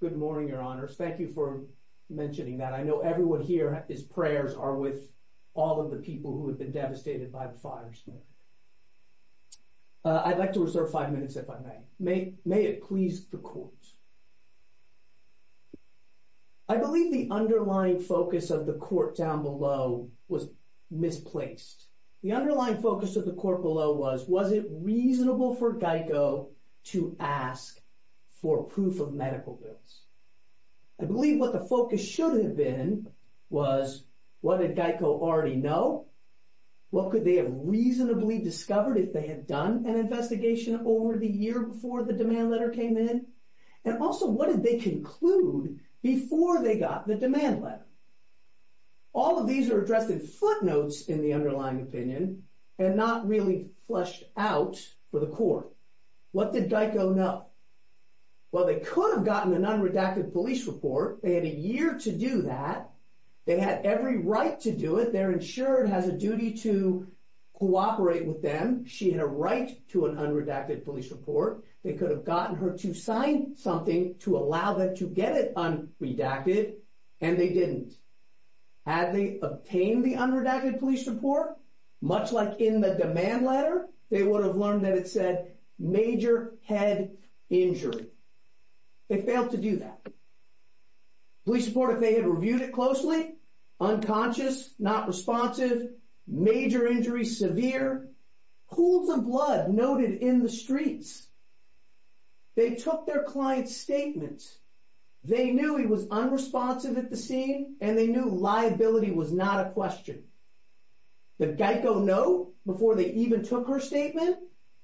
Good morning, your honors. Thank you for mentioning that. I know everyone here, his prayers are with all of the people who have been devastated by the fire. I'd like to reserve five minutes, if I may. May it please the court. I believe the underlying focus of the court down below was misplaced. The underlying focus of the medical bills. I believe what the focus should have been was what did GEICO already know? What could they have reasonably discovered if they had done an investigation over the year before the demand letter came in? And also what did they conclude before they got the demand letter? All of these are addressed in footnotes in the underlying opinion and not really fleshed out for the court. What did GEICO know? Well, they could have gotten an unredacted police report. They had a year to do that. They had every right to do it. They're insured has a duty to cooperate with them. She had a right to an unredacted police report. They could have gotten her to sign something to allow them to get it unredacted and they didn't. Had they obtained the unredacted police report, much like in the demand letter, they would have learned that it said major head injury. They failed to do that. Police report, if they had reviewed it closely, unconscious, not responsive, major injury, severe, pools of blood noted in the streets. They took their client's statements. They knew he was unresponsive at the scene and they knew liability was not a question. The GEICO note before they even took her statement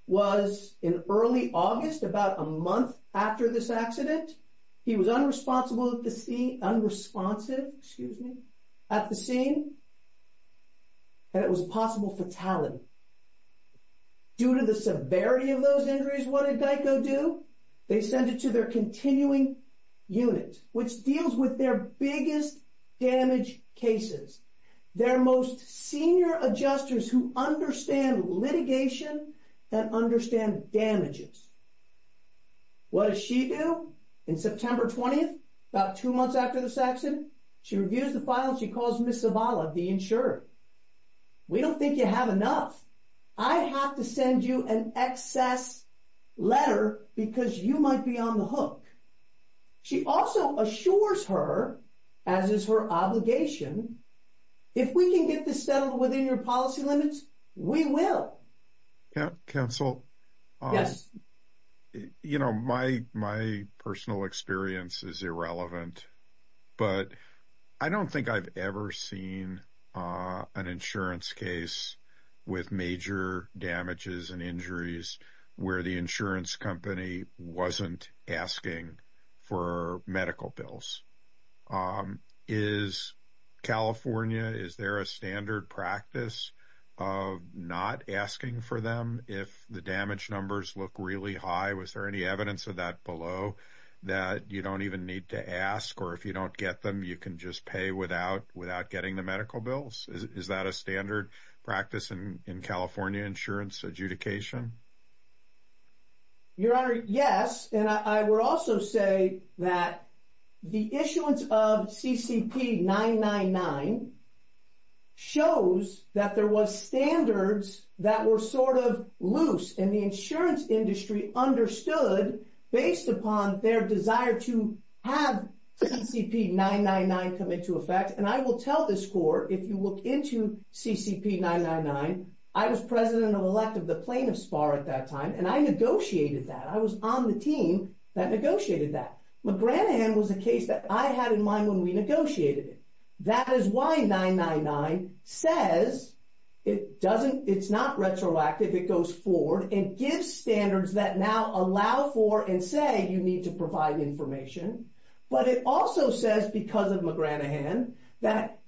was in early August, about a month after this accident. He was unresponsive at the scene and it was a possible fatality. Due to the severity of those injuries, what did GEICO do? They sent it to their continuing unit, which deals with their biggest damage cases, their most senior adjusters who understand litigation and understand damages. What does she do? In September 20th, about two months after this accident, she reviews the file and she calls Ms. Zavala, the insurer. We don't think you have enough. I have to send you an excess letter because you might be on the hook. She also assures her, as is her obligation, if we can get this settled within your policy limits, we will. Counsel, my personal experience is irrelevant, but I don't think I've ever seen an insurance case with major damages and injuries where the insurance company wasn't asking for medical bills. Is California, is there a standard practice of not asking for them if the damage numbers look really high? Was there any evidence of that below that you don't even need to ask, or if you don't get them, you can just pay without getting the medical bills? Is that a standard practice in California insurance adjudication? Your Honor, yes. I will also say that the issuance of CCP 999 shows that there were standards that were sort of loose, and the insurance industry understood, based upon their desire to have CCP 999 come into effect. And I will tell this Court, if you look into CCP 999, I was president-elect of the plaintiff's bar at that time, and I negotiated that. I was on the team that negotiated that. McGranahan was a case that I had in mind when we negotiated it. That is why says it's not retroactive. It goes forward and gives standards that now allow for and say you need to provide information. But it also says, because of McGranahan, that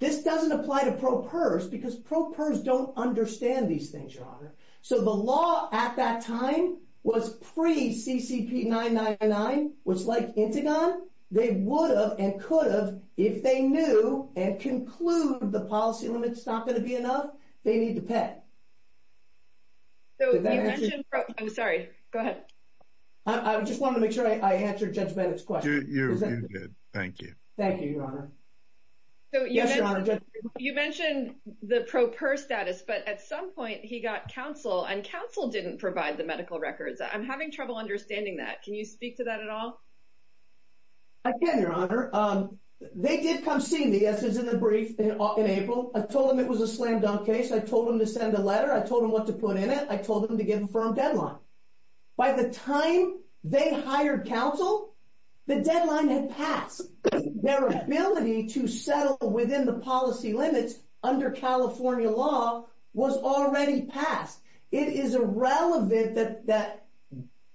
this doesn't apply to pro pers, because pro pers don't understand these things, Your Honor. So the law at that time was pre-CCP 999, was like Intigon. They would have and could have, if they knew and conclude the policy limit's not going to be enough, they need to pay. I'm sorry. Go ahead. I just wanted to make sure I answered Judge Bennett's question. You did. Thank you. Thank you, Your Honor. You mentioned the pro pers status, but at some point he got counsel, and counsel didn't provide the medical records. I'm having trouble understanding that. Can you speak to that at all? I can, Your Honor. They did come see me, as is in the brief, in April. I told them it was a slam dunk case. I told them to send a letter. I told them what to put in it. I told them to give a firm deadline. By the time they hired counsel, the deadline had passed. Their ability to settle that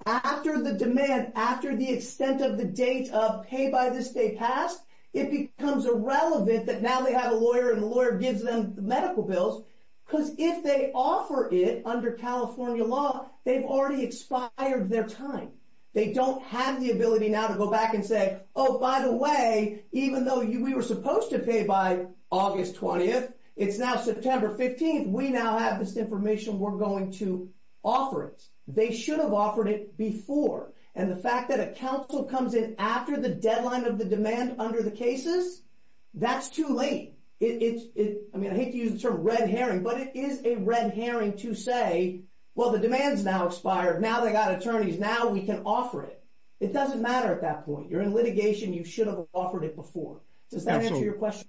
after the demand, after the extent of the date of pay by this date passed, it becomes irrelevant that now they have a lawyer and the lawyer gives them the medical bills, because if they offer it under California law, they've already expired their time. They don't have the ability now to go back and say, oh, by the way, even though we were supposed to pay by August 20th, it's now September 15th. We now have this information. We're going to offer it. They should have offered it before. The fact that a counsel comes in after the deadline of the demand under the cases, that's too late. I hate to use the term red herring, but it is a red herring to say, well, the demand's now expired. Now they got attorneys. Now we can offer it. It doesn't matter at that point. You're in litigation. You should have offered it before. Does that answer your question?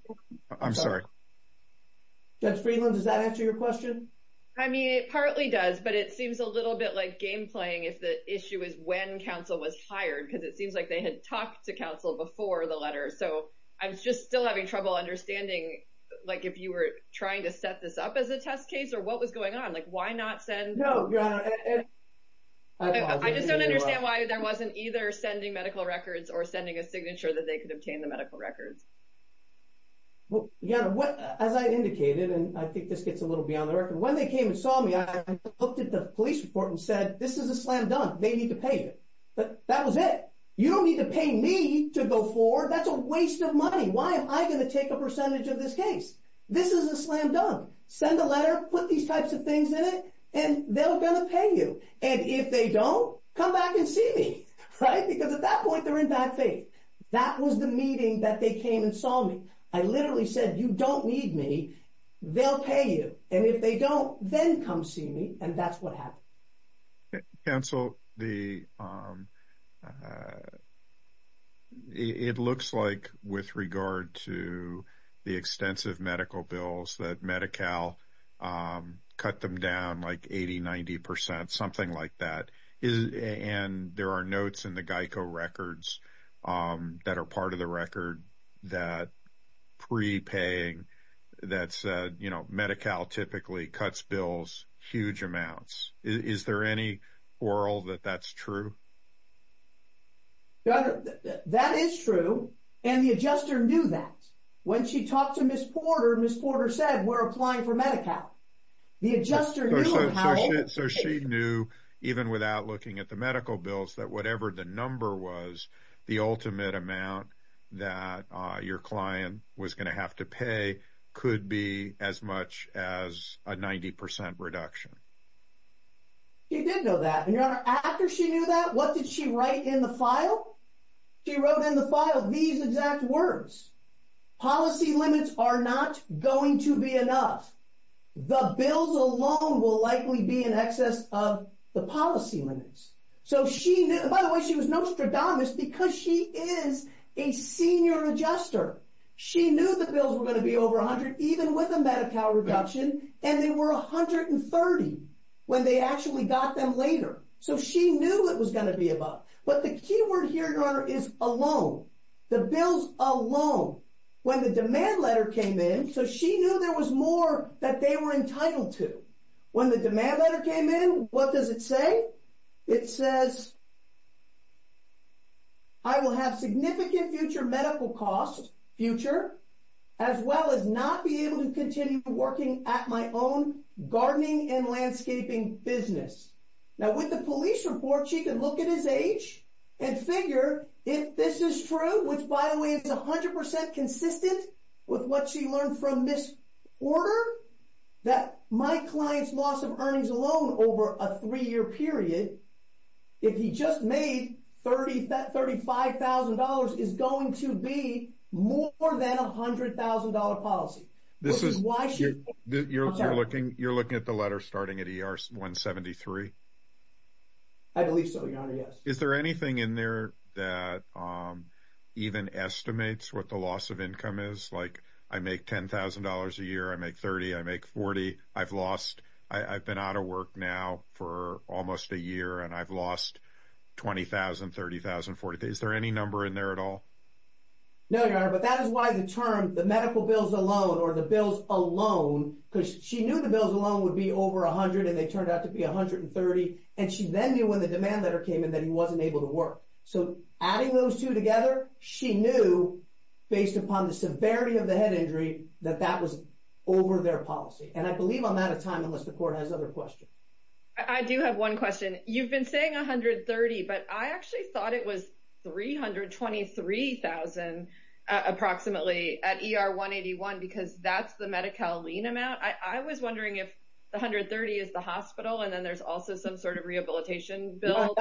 I'm sorry. Judge Friedland, does that answer your question? I mean, it partly does, but it seems a little bit like game playing if the issue is when counsel was hired, because it seems like they had talked to counsel before the letter. I'm just still having trouble understanding if you were trying to set this up as a test case or what was going on. Why not send- No, Your Honor. I just don't understand why there wasn't either sending medical records or sending a signature that they could obtain the medical records. Well, Your Honor, as I indicated, and I think this gets a little beyond the record, when they came and saw me, I looked at the police report and said, this is a slam dunk. They need to pay you. But that was it. You don't need to pay me to go forward. That's a waste of money. Why am I going to take a percentage of this case? This is a slam dunk. Send a letter, put these types of things in it, and they're going to pay you. And if they don't, come back and see me. Because at that point, they're in bad faith. That was the meeting that they came and saw me. I literally said, you don't need me. They'll pay you. And if they don't, then come see me. And that's what happened. Counsel, it looks like with regard to the extensive medical bills that Medi-Cal cut them down like 80, 90 percent, something like that. And there are notes in the GEICO records that are part of the record that pre-paying, that said, you know, Medi-Cal typically cuts bills huge amounts. Is there any oral that that's true? That is true. And the adjuster knew that. When she talked to Ms. Porter, Ms. Porter said, we're applying for Medi-Cal. The adjuster knew it, Howard. So she knew, even without looking at the medical bills, that whatever the number was, the ultimate amount that your client was going to have to pay could be as much as a 90 percent reduction. She did know that. And, Your Honor, after she knew that, what did she write in the file? She wrote in the file these exact words. Policy limits are not going to be enough. The bills alone will likely be in excess of the policy limits. So she knew, by the way, she was no strategist because she is a senior adjuster. She knew the bills were going to be over 100, even with a Medi-Cal reduction. And they were 130 when they actually got them later. So she knew it was going to be above. But the key word here, Your Honor, is alone. The bills alone. When the demand letter came in, so she knew there was more that they were entitled to. When the demand letter came in, what does it say? It says, I will have significant future medical costs, future, as well as not be able to continue working at my own gardening and landscaping business. Now, with the police report, she can look at his age and figure if this is true, which, by the way, is 100% consistent with what she learned from this order, that my client's loss of earnings alone over a three-year period, if he just made $35,000, is going to be more than a $100,000 policy. This is why she You're looking at the letter starting at ER 173? I believe so, Your Honor, yes. Is there anything in there that even estimates what the loss of income is? Like, I make $10,000 a year, I make $30,000, I make $40,000. I've been out of work now for almost a year, and I've lost $20,000, $30,000, $40,000. Is there any number in there at all? No, Your Honor, but that is why the term, the medical bills alone, or the bills alone, because she knew the bills alone would be over $100,000, and they turned out to be $130,000, and she then knew when the demand letter came in that he wasn't able to work. So, adding those two together, she knew, based upon the severity of the head injury, that that was over their policy. And I believe I'm out of time unless the court has other questions. I do have one question. You've been saying $130,000, but I actually thought it was $323,000 approximately at ER 181, because that's the Medi-Cal lien amount. I was wondering if the $130,000 is the hospital, and then there's also some sort of rehabilitation bill?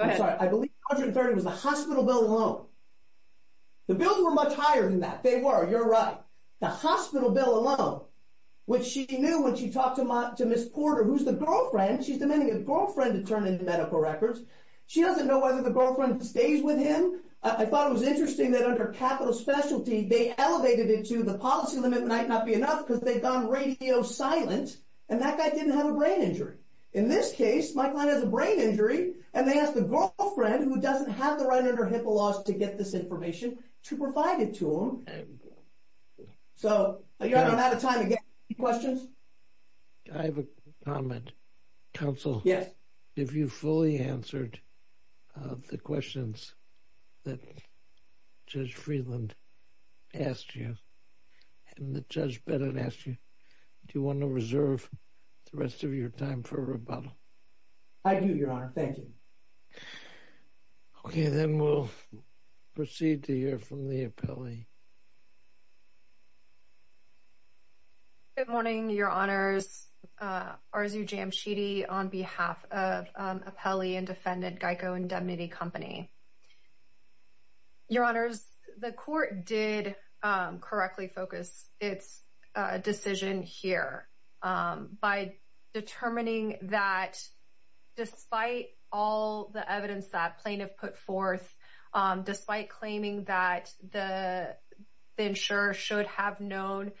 I'm sorry, I believe $130,000 was the hospital bill alone. The bills were much higher than that. They were, you're right. The hospital bill alone, which she knew when she talked to Ms. Porter, who's the girlfriend, she's demanding a girlfriend to turn in the medical records. She doesn't know whether the girlfriend stays with him. I thought it was interesting that under capital specialty, they elevated it to the policy limit might not be enough, because they've gone radio silent, and that guy didn't have a brain injury. In this case, my client has a brain injury, and they asked the girlfriend, who doesn't have the right under HIPAA laws to get this information, to provide it to him. I'm out of time. Any questions? I have a comment. Counsel? Yes. If you fully answered the questions that Judge Freeland asked you, and that Judge Bennett asked you, do you want to reserve the rest of your time for rebuttal? I do, Your Honor. Thank you. Okay. Then we'll proceed to hear from the appellee. Good morning, Your Honors. Arzu Jamshidi on behalf of Appellee and Defendant Geico Indemnity Company. Your Honors, the court did correctly focus its decision here by determining that despite all the evidence that plaintiff put forth, despite claiming that the insurer should have known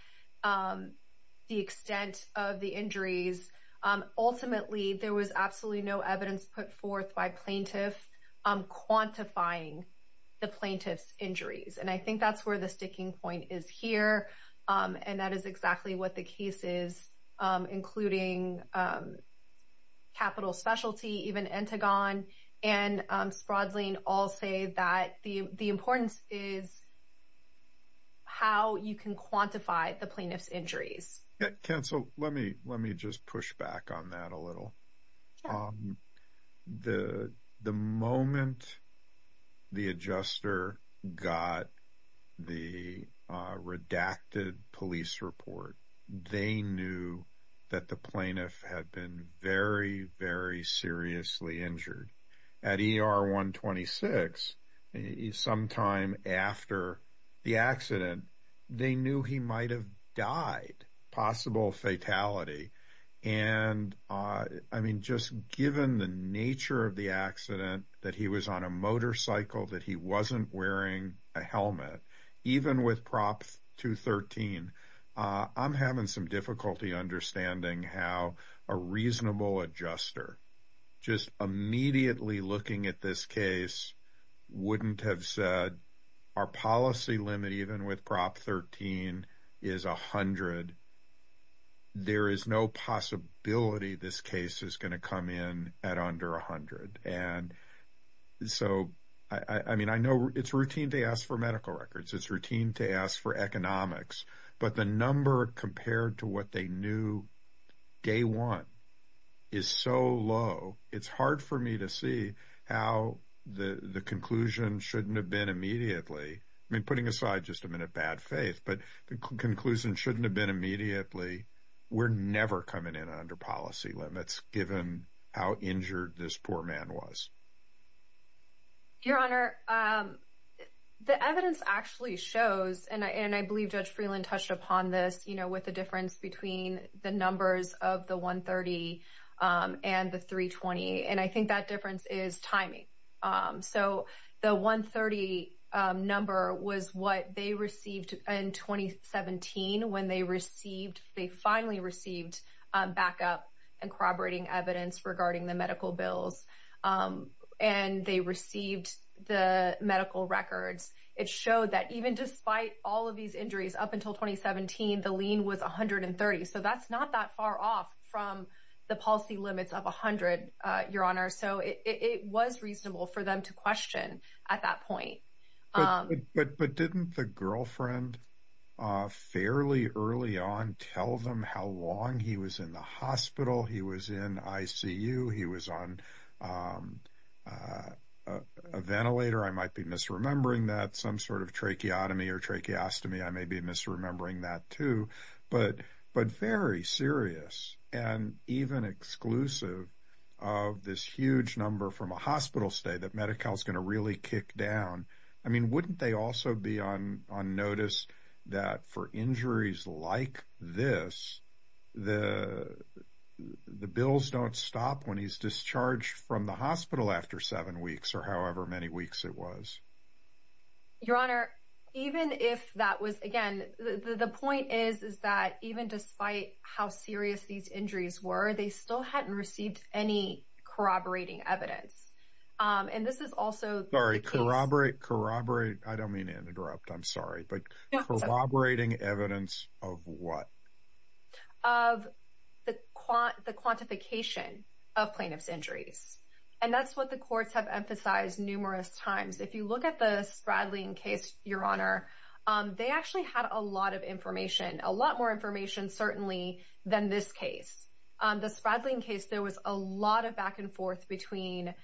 the extent of the injuries, ultimately, there was absolutely no evidence put forth by plaintiff quantifying the plaintiff's injuries. And I think that's where the sticking point is here. And that is exactly what the case is, including capital specialty, even Entegon, and Sprodling, all say that the importance is how you can quantify the plaintiff's injuries. Counsel, let me just push back on that a little. Okay. The moment the adjuster got the redacted police report, they knew that the plaintiff had been very, very seriously injured. At ER 126, sometime after the accident, they knew he might have died, possible fatality. And I mean, just given the nature of the accident, that he was on a motorcycle, that he wasn't wearing a helmet, even with Prop 213, I'm having some difficulty understanding how a reasonable adjuster just immediately looking at this case wouldn't have said, our policy limit, even with 13 is 100, there is no possibility this case is going to come in at under 100. And so, I mean, I know it's routine to ask for medical records, it's routine to ask for economics, but the number compared to what they knew day one is so low, it's hard for me to see how the conclusion shouldn't have been immediately, I mean, putting aside just a minute bad faith, but the conclusion shouldn't have been immediately, we're never coming in under policy limits, given how injured this poor man was. Your Honor, the evidence actually shows, and I believe Judge Freeland touched upon this, you know, with the difference between the numbers of the 130 and the 320. And I think that difference is timing. So the 130 number was what they received in 2017, when they received, they finally received backup and corroborating evidence regarding the medical bills. And they received the medical records, it showed that even despite all of these injuries up until 2017, the lean was 130. So that's not that far off from the policy limits of 100, Your Honor. So it was reasonable for them to question at that point. But didn't the girlfriend fairly early on tell them how long he was in the hospital, he was in ICU, he was on a ventilator, I might be misremembering that, some sort of tracheotomy or tracheostomy, I may be misremembering that too. But very serious and even exclusive of this huge number from a hospital stay that Medi-Cal is going to really kick down. I mean, wouldn't they also be on notice that for injuries like this, the bills don't stop when he's discharged from the hospital after seven weeks or however many weeks it was? Your Honor, even if that was, again, the point is, is that even despite how serious these injuries were, they still hadn't received any corroborating evidence. And this is also... Sorry, corroborate, corroborate, I don't mean to interrupt, I'm sorry, but corroborating evidence of what? Of the quantification of plaintiff's injuries. And that's what the courts have emphasized numerous times. If you look at the Spradling case, Your Honor, they actually had a lot of information, a lot more information certainly than this case. The Spradling case, there was a lot of back and forth between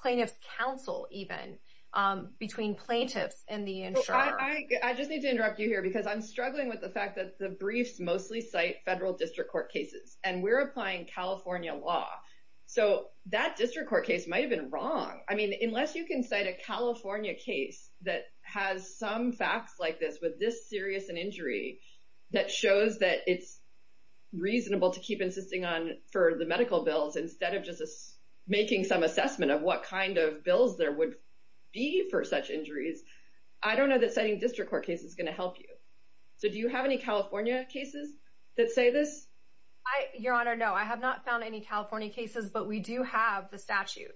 plaintiff's counsel even, between plaintiffs and the insurer. I just need to interrupt you here because I'm struggling with the fact that the briefs mostly cite federal district court cases, and we're applying California law. So that district court case might have been wrong. I mean, unless you can cite a California case that has some facts like this, with this serious an injury, that shows that it's reasonable to keep insisting on for the medical bills instead of just making some assessment of what kind of bills there would be for such injuries. I don't know that citing district court cases is going to help you. So do you have any California cases that say this? Your Honor, no, I have not found any California cases, but we do have the statute.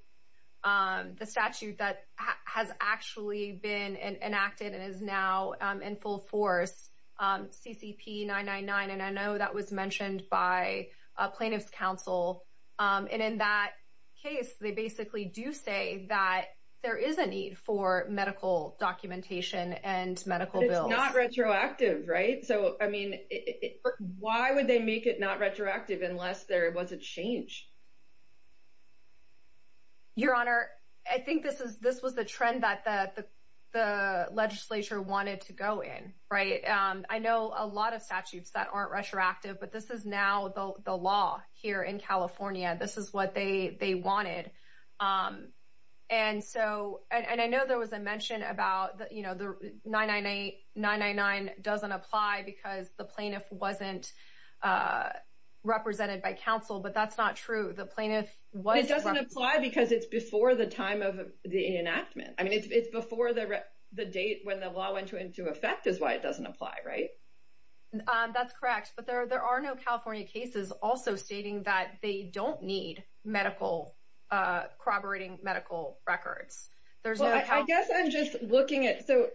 The statute that has actually been enacted and is now in full force, CCP 999. And I know that was mentioned by plaintiff's counsel. And in that case, they basically do say that there is a need for medical documentation and medical bills. It's not retroactive, right? So I mean, why would they make it not retroactive unless there was a change? Your Honor, I think this was the trend that the legislature wanted to go in, right? I know a lot of statutes that aren't retroactive, but this is now the law here in California. This is what they wanted. And so, and I know there was a mention about the 999 doesn't apply because the plaintiff wasn't represented by counsel, but that's not true. The plaintiff was- It doesn't apply because it's before the time of the enactment. I mean, it's before the date when the law went into effect is why it doesn't apply, right? That's correct. But there are no California cases also stating that they don't need medical, corroborating medical records. There's no- I guess I'm just looking at, so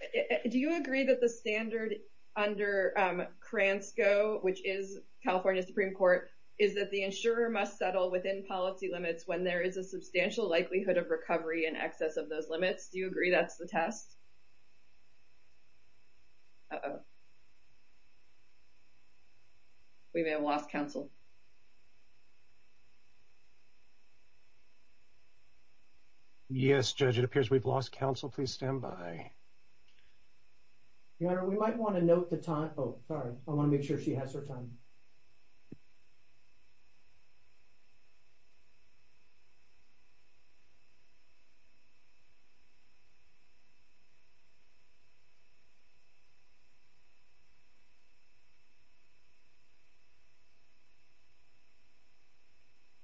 do you agree that the standard under Kransko, which is California Supreme Court, is that the insurer must settle within policy limits when there is a substantial likelihood of recovery in excess of those limits? Do you agree that's the test? We may have lost counsel. Yes, Judge, it appears we've lost counsel. Please stand by. Your Honor, we might want to note the time. Oh, sorry. I want to make sure she has her time.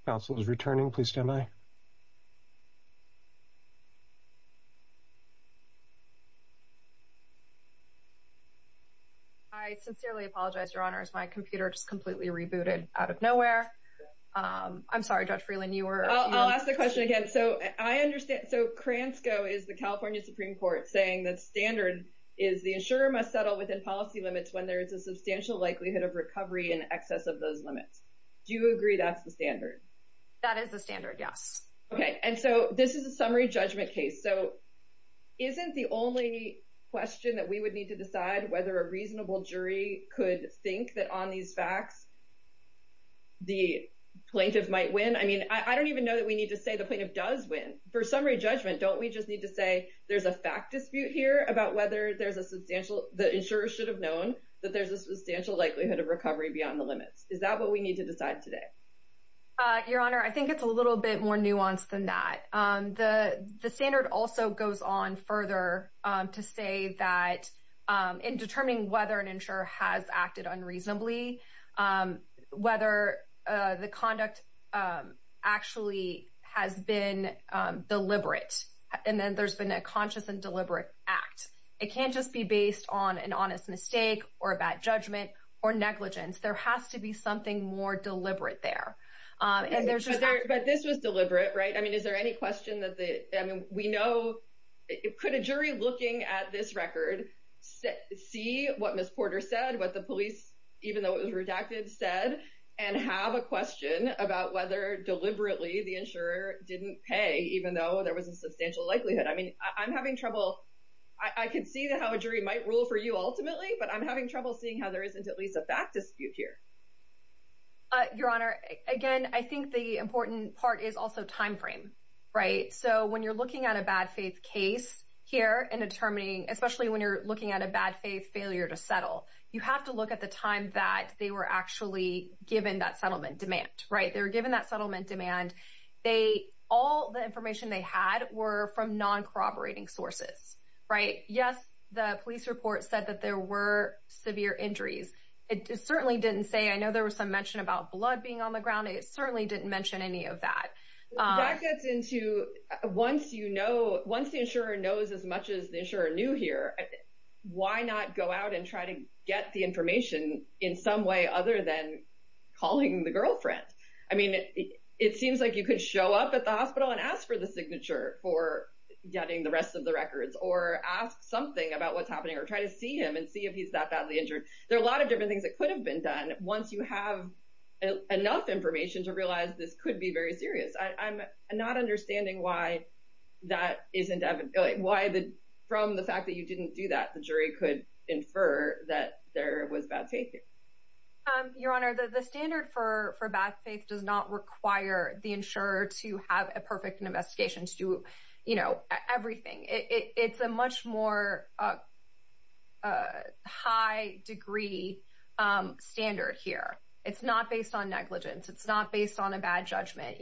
Counsel is returning. Please stand by. I sincerely apologize, Your Honor, as my computer just completely rebooted out of nowhere. I'm sorry, Judge Freeland, you were- I'll ask the question again. So, I understand, so Kransko is the California Supreme Court saying the standard is the insurer must settle within policy limits when there is a substantial likelihood of recovery in excess of those limits. Do you agree that's the standard? That is the standard, yes. Okay, and so this is a summary judgment case, so isn't the only question that we would need to decide whether a reasonable jury could think that on these facts the plaintiff might win? I mean, I don't even know that we need to say the plaintiff does win. For summary judgment, don't we just need to say there's a fact dispute here about whether there's a substantial- the insurer should have known that there's a substantial likelihood of recovery beyond the limits? Is that what we need to decide today? Your Honor, I think it's a little bit more nuanced than that. The standard also goes on further to say that in determining whether an insurer has acted unreasonably, whether the conduct actually has been deliberate, and then there's been a conscious and deliberate act. It can't just be based on an honest mistake or a bad judgment or negligence. There has to be something more deliberate there. But this was deliberate, right? I mean, is there any question that the- I mean, we know- could a jury looking at this record see what Ms. Porter said, what the police, even though it was redacted, said, and have a question about whether deliberately the insurer didn't pay, even though there was a substantial likelihood? I mean, I'm having trouble- I can see how a jury might rule for you ultimately, but I'm having trouble seeing how there isn't at least a fact dispute here. Your Honor, again, I think the important part is also time frame, right? So when you're looking at a bad faith case here and determining- especially when you're looking at a bad faith failure to settle, you have to look at the time that they were actually given that settlement demand, right? They were given that settlement demand. All the information they had were from non-corroborating sources, right? Yes, the police report said that there were severe injuries. It certainly didn't say- I know there was some mention about blood being on the ground. It certainly didn't mention any of that. That gets into- once you know- once the insurer knows as much as the insurer knew here, why not go out and try to get the information in some way other than calling the girlfriend? I mean, it seems like you could show up at the hospital and ask for the signature for getting the rest of the records or ask something about what's happening or try to see him and see if he's that badly injured. There are a lot of different things that could have been done once you have enough information to realize this could be very serious. I'm not understanding why that isn't- why the- from the fact that you didn't do that, the jury could infer that there was bad faith here. Your Honor, the standard for bad faith does not require the insurer to have a perfect investigation to do everything. It's a much more high degree standard here. It's not based on negligence. It's not based on a bad judgment.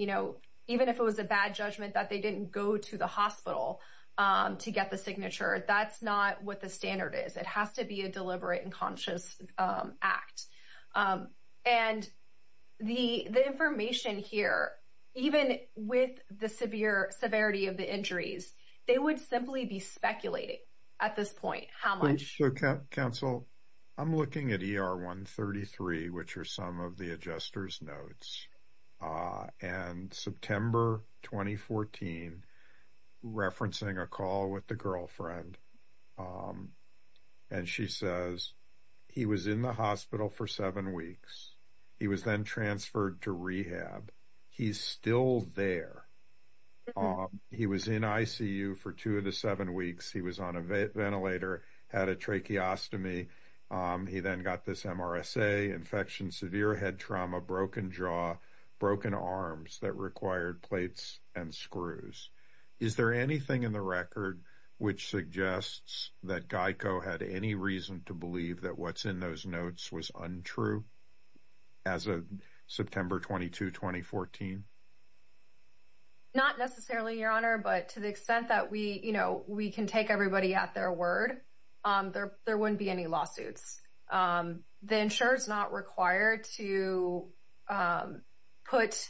Even if it was a bad judgment that they didn't go to the hospital to get the signature, that's not what the standard is. It has to be a deliberate and conscious act. And the information here, even with the severe severity of the injuries, they would simply be speculating at this point how much- So, counsel, I'm looking at ER 133, which are some of the adjuster's notes, and September 2014, referencing a call with the girlfriend, and she says, he was in the hospital for seven weeks. He was then transferred to rehab. He's still there. He was in ICU for two of the seven weeks. He was on a ventilator, had a tracheostomy. He then got this MRSA, infection, severe head trauma, broken jaw, broken arms that required plates and screws. Is there anything in the record which suggests that GEICO had any reason to believe that what's in those notes was untrue as of September 22, 2014? Not necessarily, Your Honor, but to the extent that we can take everybody at their word, there wouldn't be any lawsuits. The insurer's not required to put-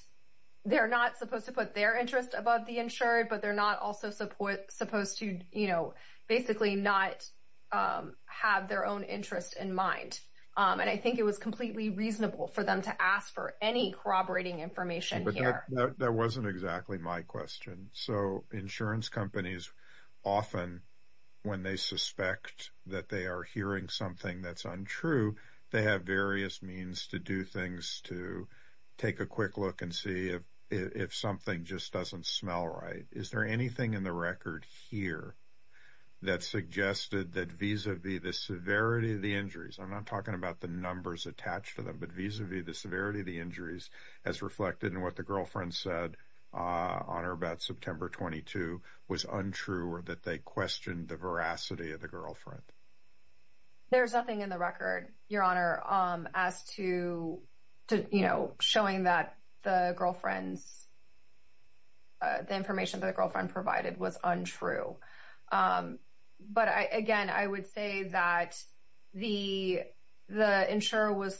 They're not supposed to put their interest above the insurer, but they're not also supposed to basically not have their own interest in mind. And I think it was completely reasonable for them to ask for any corroborating information here. That wasn't exactly my question. So, insurance companies often, when they suspect that they are hearing something that's untrue, they have various means to do things to take a quick look and see if something just doesn't smell right. Is there anything in the record here that suggested that vis-a-vis the severity of the injuries? I'm not talking about the numbers attached to them, but vis-a-vis the severity of the injuries as reflected in what the girlfriend said on or about September 22 was untrue or that they questioned the veracity of the girlfriend? There's nothing in the record, Your Honor, as to showing that the girlfriend's- the information that the girlfriend provided was untrue. But again, I would say that the insurer was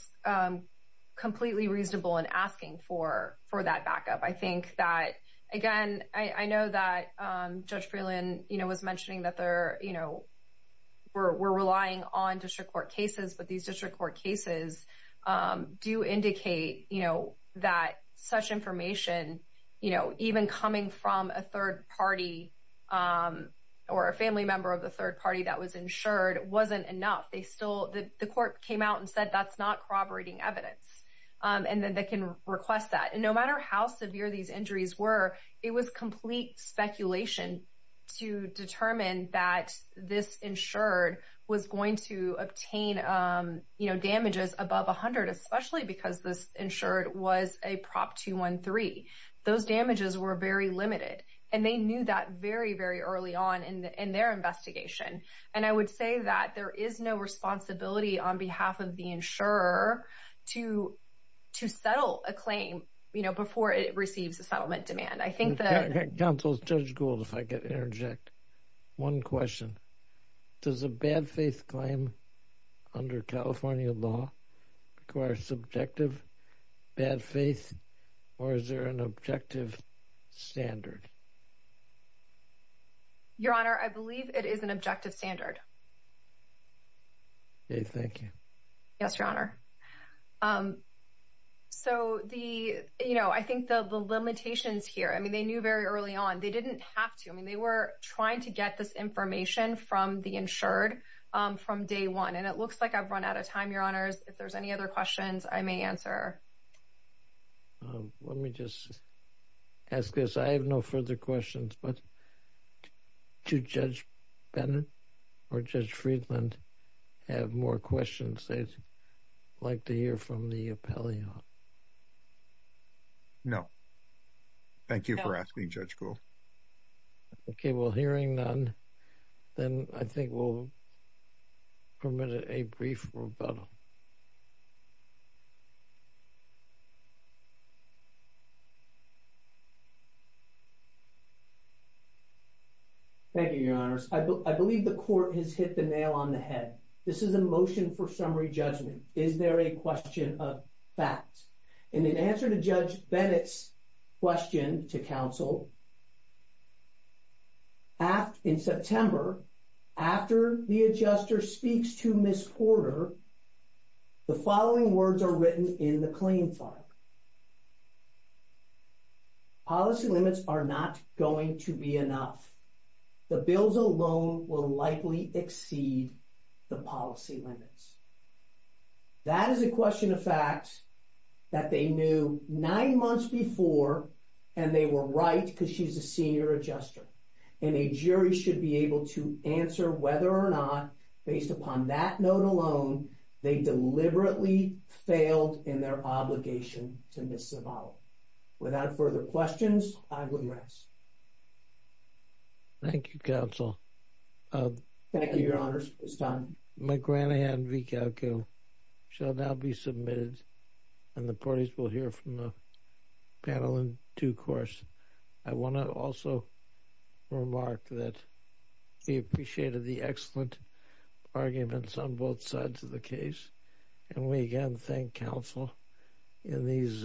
completely reasonable in asking for that backup. I think that, again, I know that Judge Freeland was mentioning that we're relying on district court cases, but these district court cases do indicate that such information, even coming from a third party or a family member of the third party that was insured, wasn't enough. The court came out and said that's not corroborating evidence and that they can request that. And no matter how severe these injuries were, it was complete speculation to determine that this insured was going to obtain damages above 100, especially because this insured was a Prop 213. Those damages were very limited, and they knew that very, very early on in their investigation. And I would say that there is no responsibility on behalf of the insurer to settle a claim before it receives settlement demand. I think that- Counsel, Judge Gould, if I could interject. One question. Does a bad faith claim under California law require subjective bad faith or is there an objective standard? Your Honor, I believe it is an objective standard. Okay, thank you. Yes, Your Honor. So the, you know, I think the limitations here, I mean, they knew very early on. They didn't have to. I mean, they were trying to get this information from the insured from day one. And it looks like I've run out of time, Your Honors. If there's any other questions I may answer. Let me just ask this. I have no further questions, but do Judge Bennett or Judge Friedland have more questions they'd like to hear from the appellee? No. Thank you for asking, Judge Gould. Okay, well, hearing none, then I think we'll permit a brief rebuttal. Thank you, Your Honors. I believe the court has hit the nail on the head. This is a motion for summary judgment. Is there a question of fact? In an answer to Judge Bennett's question to counsel, in September, after the adjuster speaks to Ms. Porter, the following words are written in the claim file. Policy limits are not going to be enough. The bills alone will likely exceed the policy limits. That is a question of fact that they knew nine months before, and they were right because she's a senior adjuster. And a jury should be able to answer whether or not, based upon that note alone, they deliberately failed in their obligation to Ms. Zavala. Without further questions, I will rest. Thank you, counsel. Thank you, Your Honors. It's time. McGranahan v. Kalko shall now be submitted, and the parties will hear from the panel in due course. I want to also remark that we appreciated the excellent arguments on both sides of the case, and we again thank counsel in these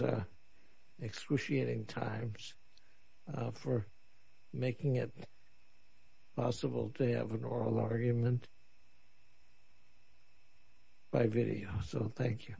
excruciating times for making it possible to have an oral argument by video. So, thank you.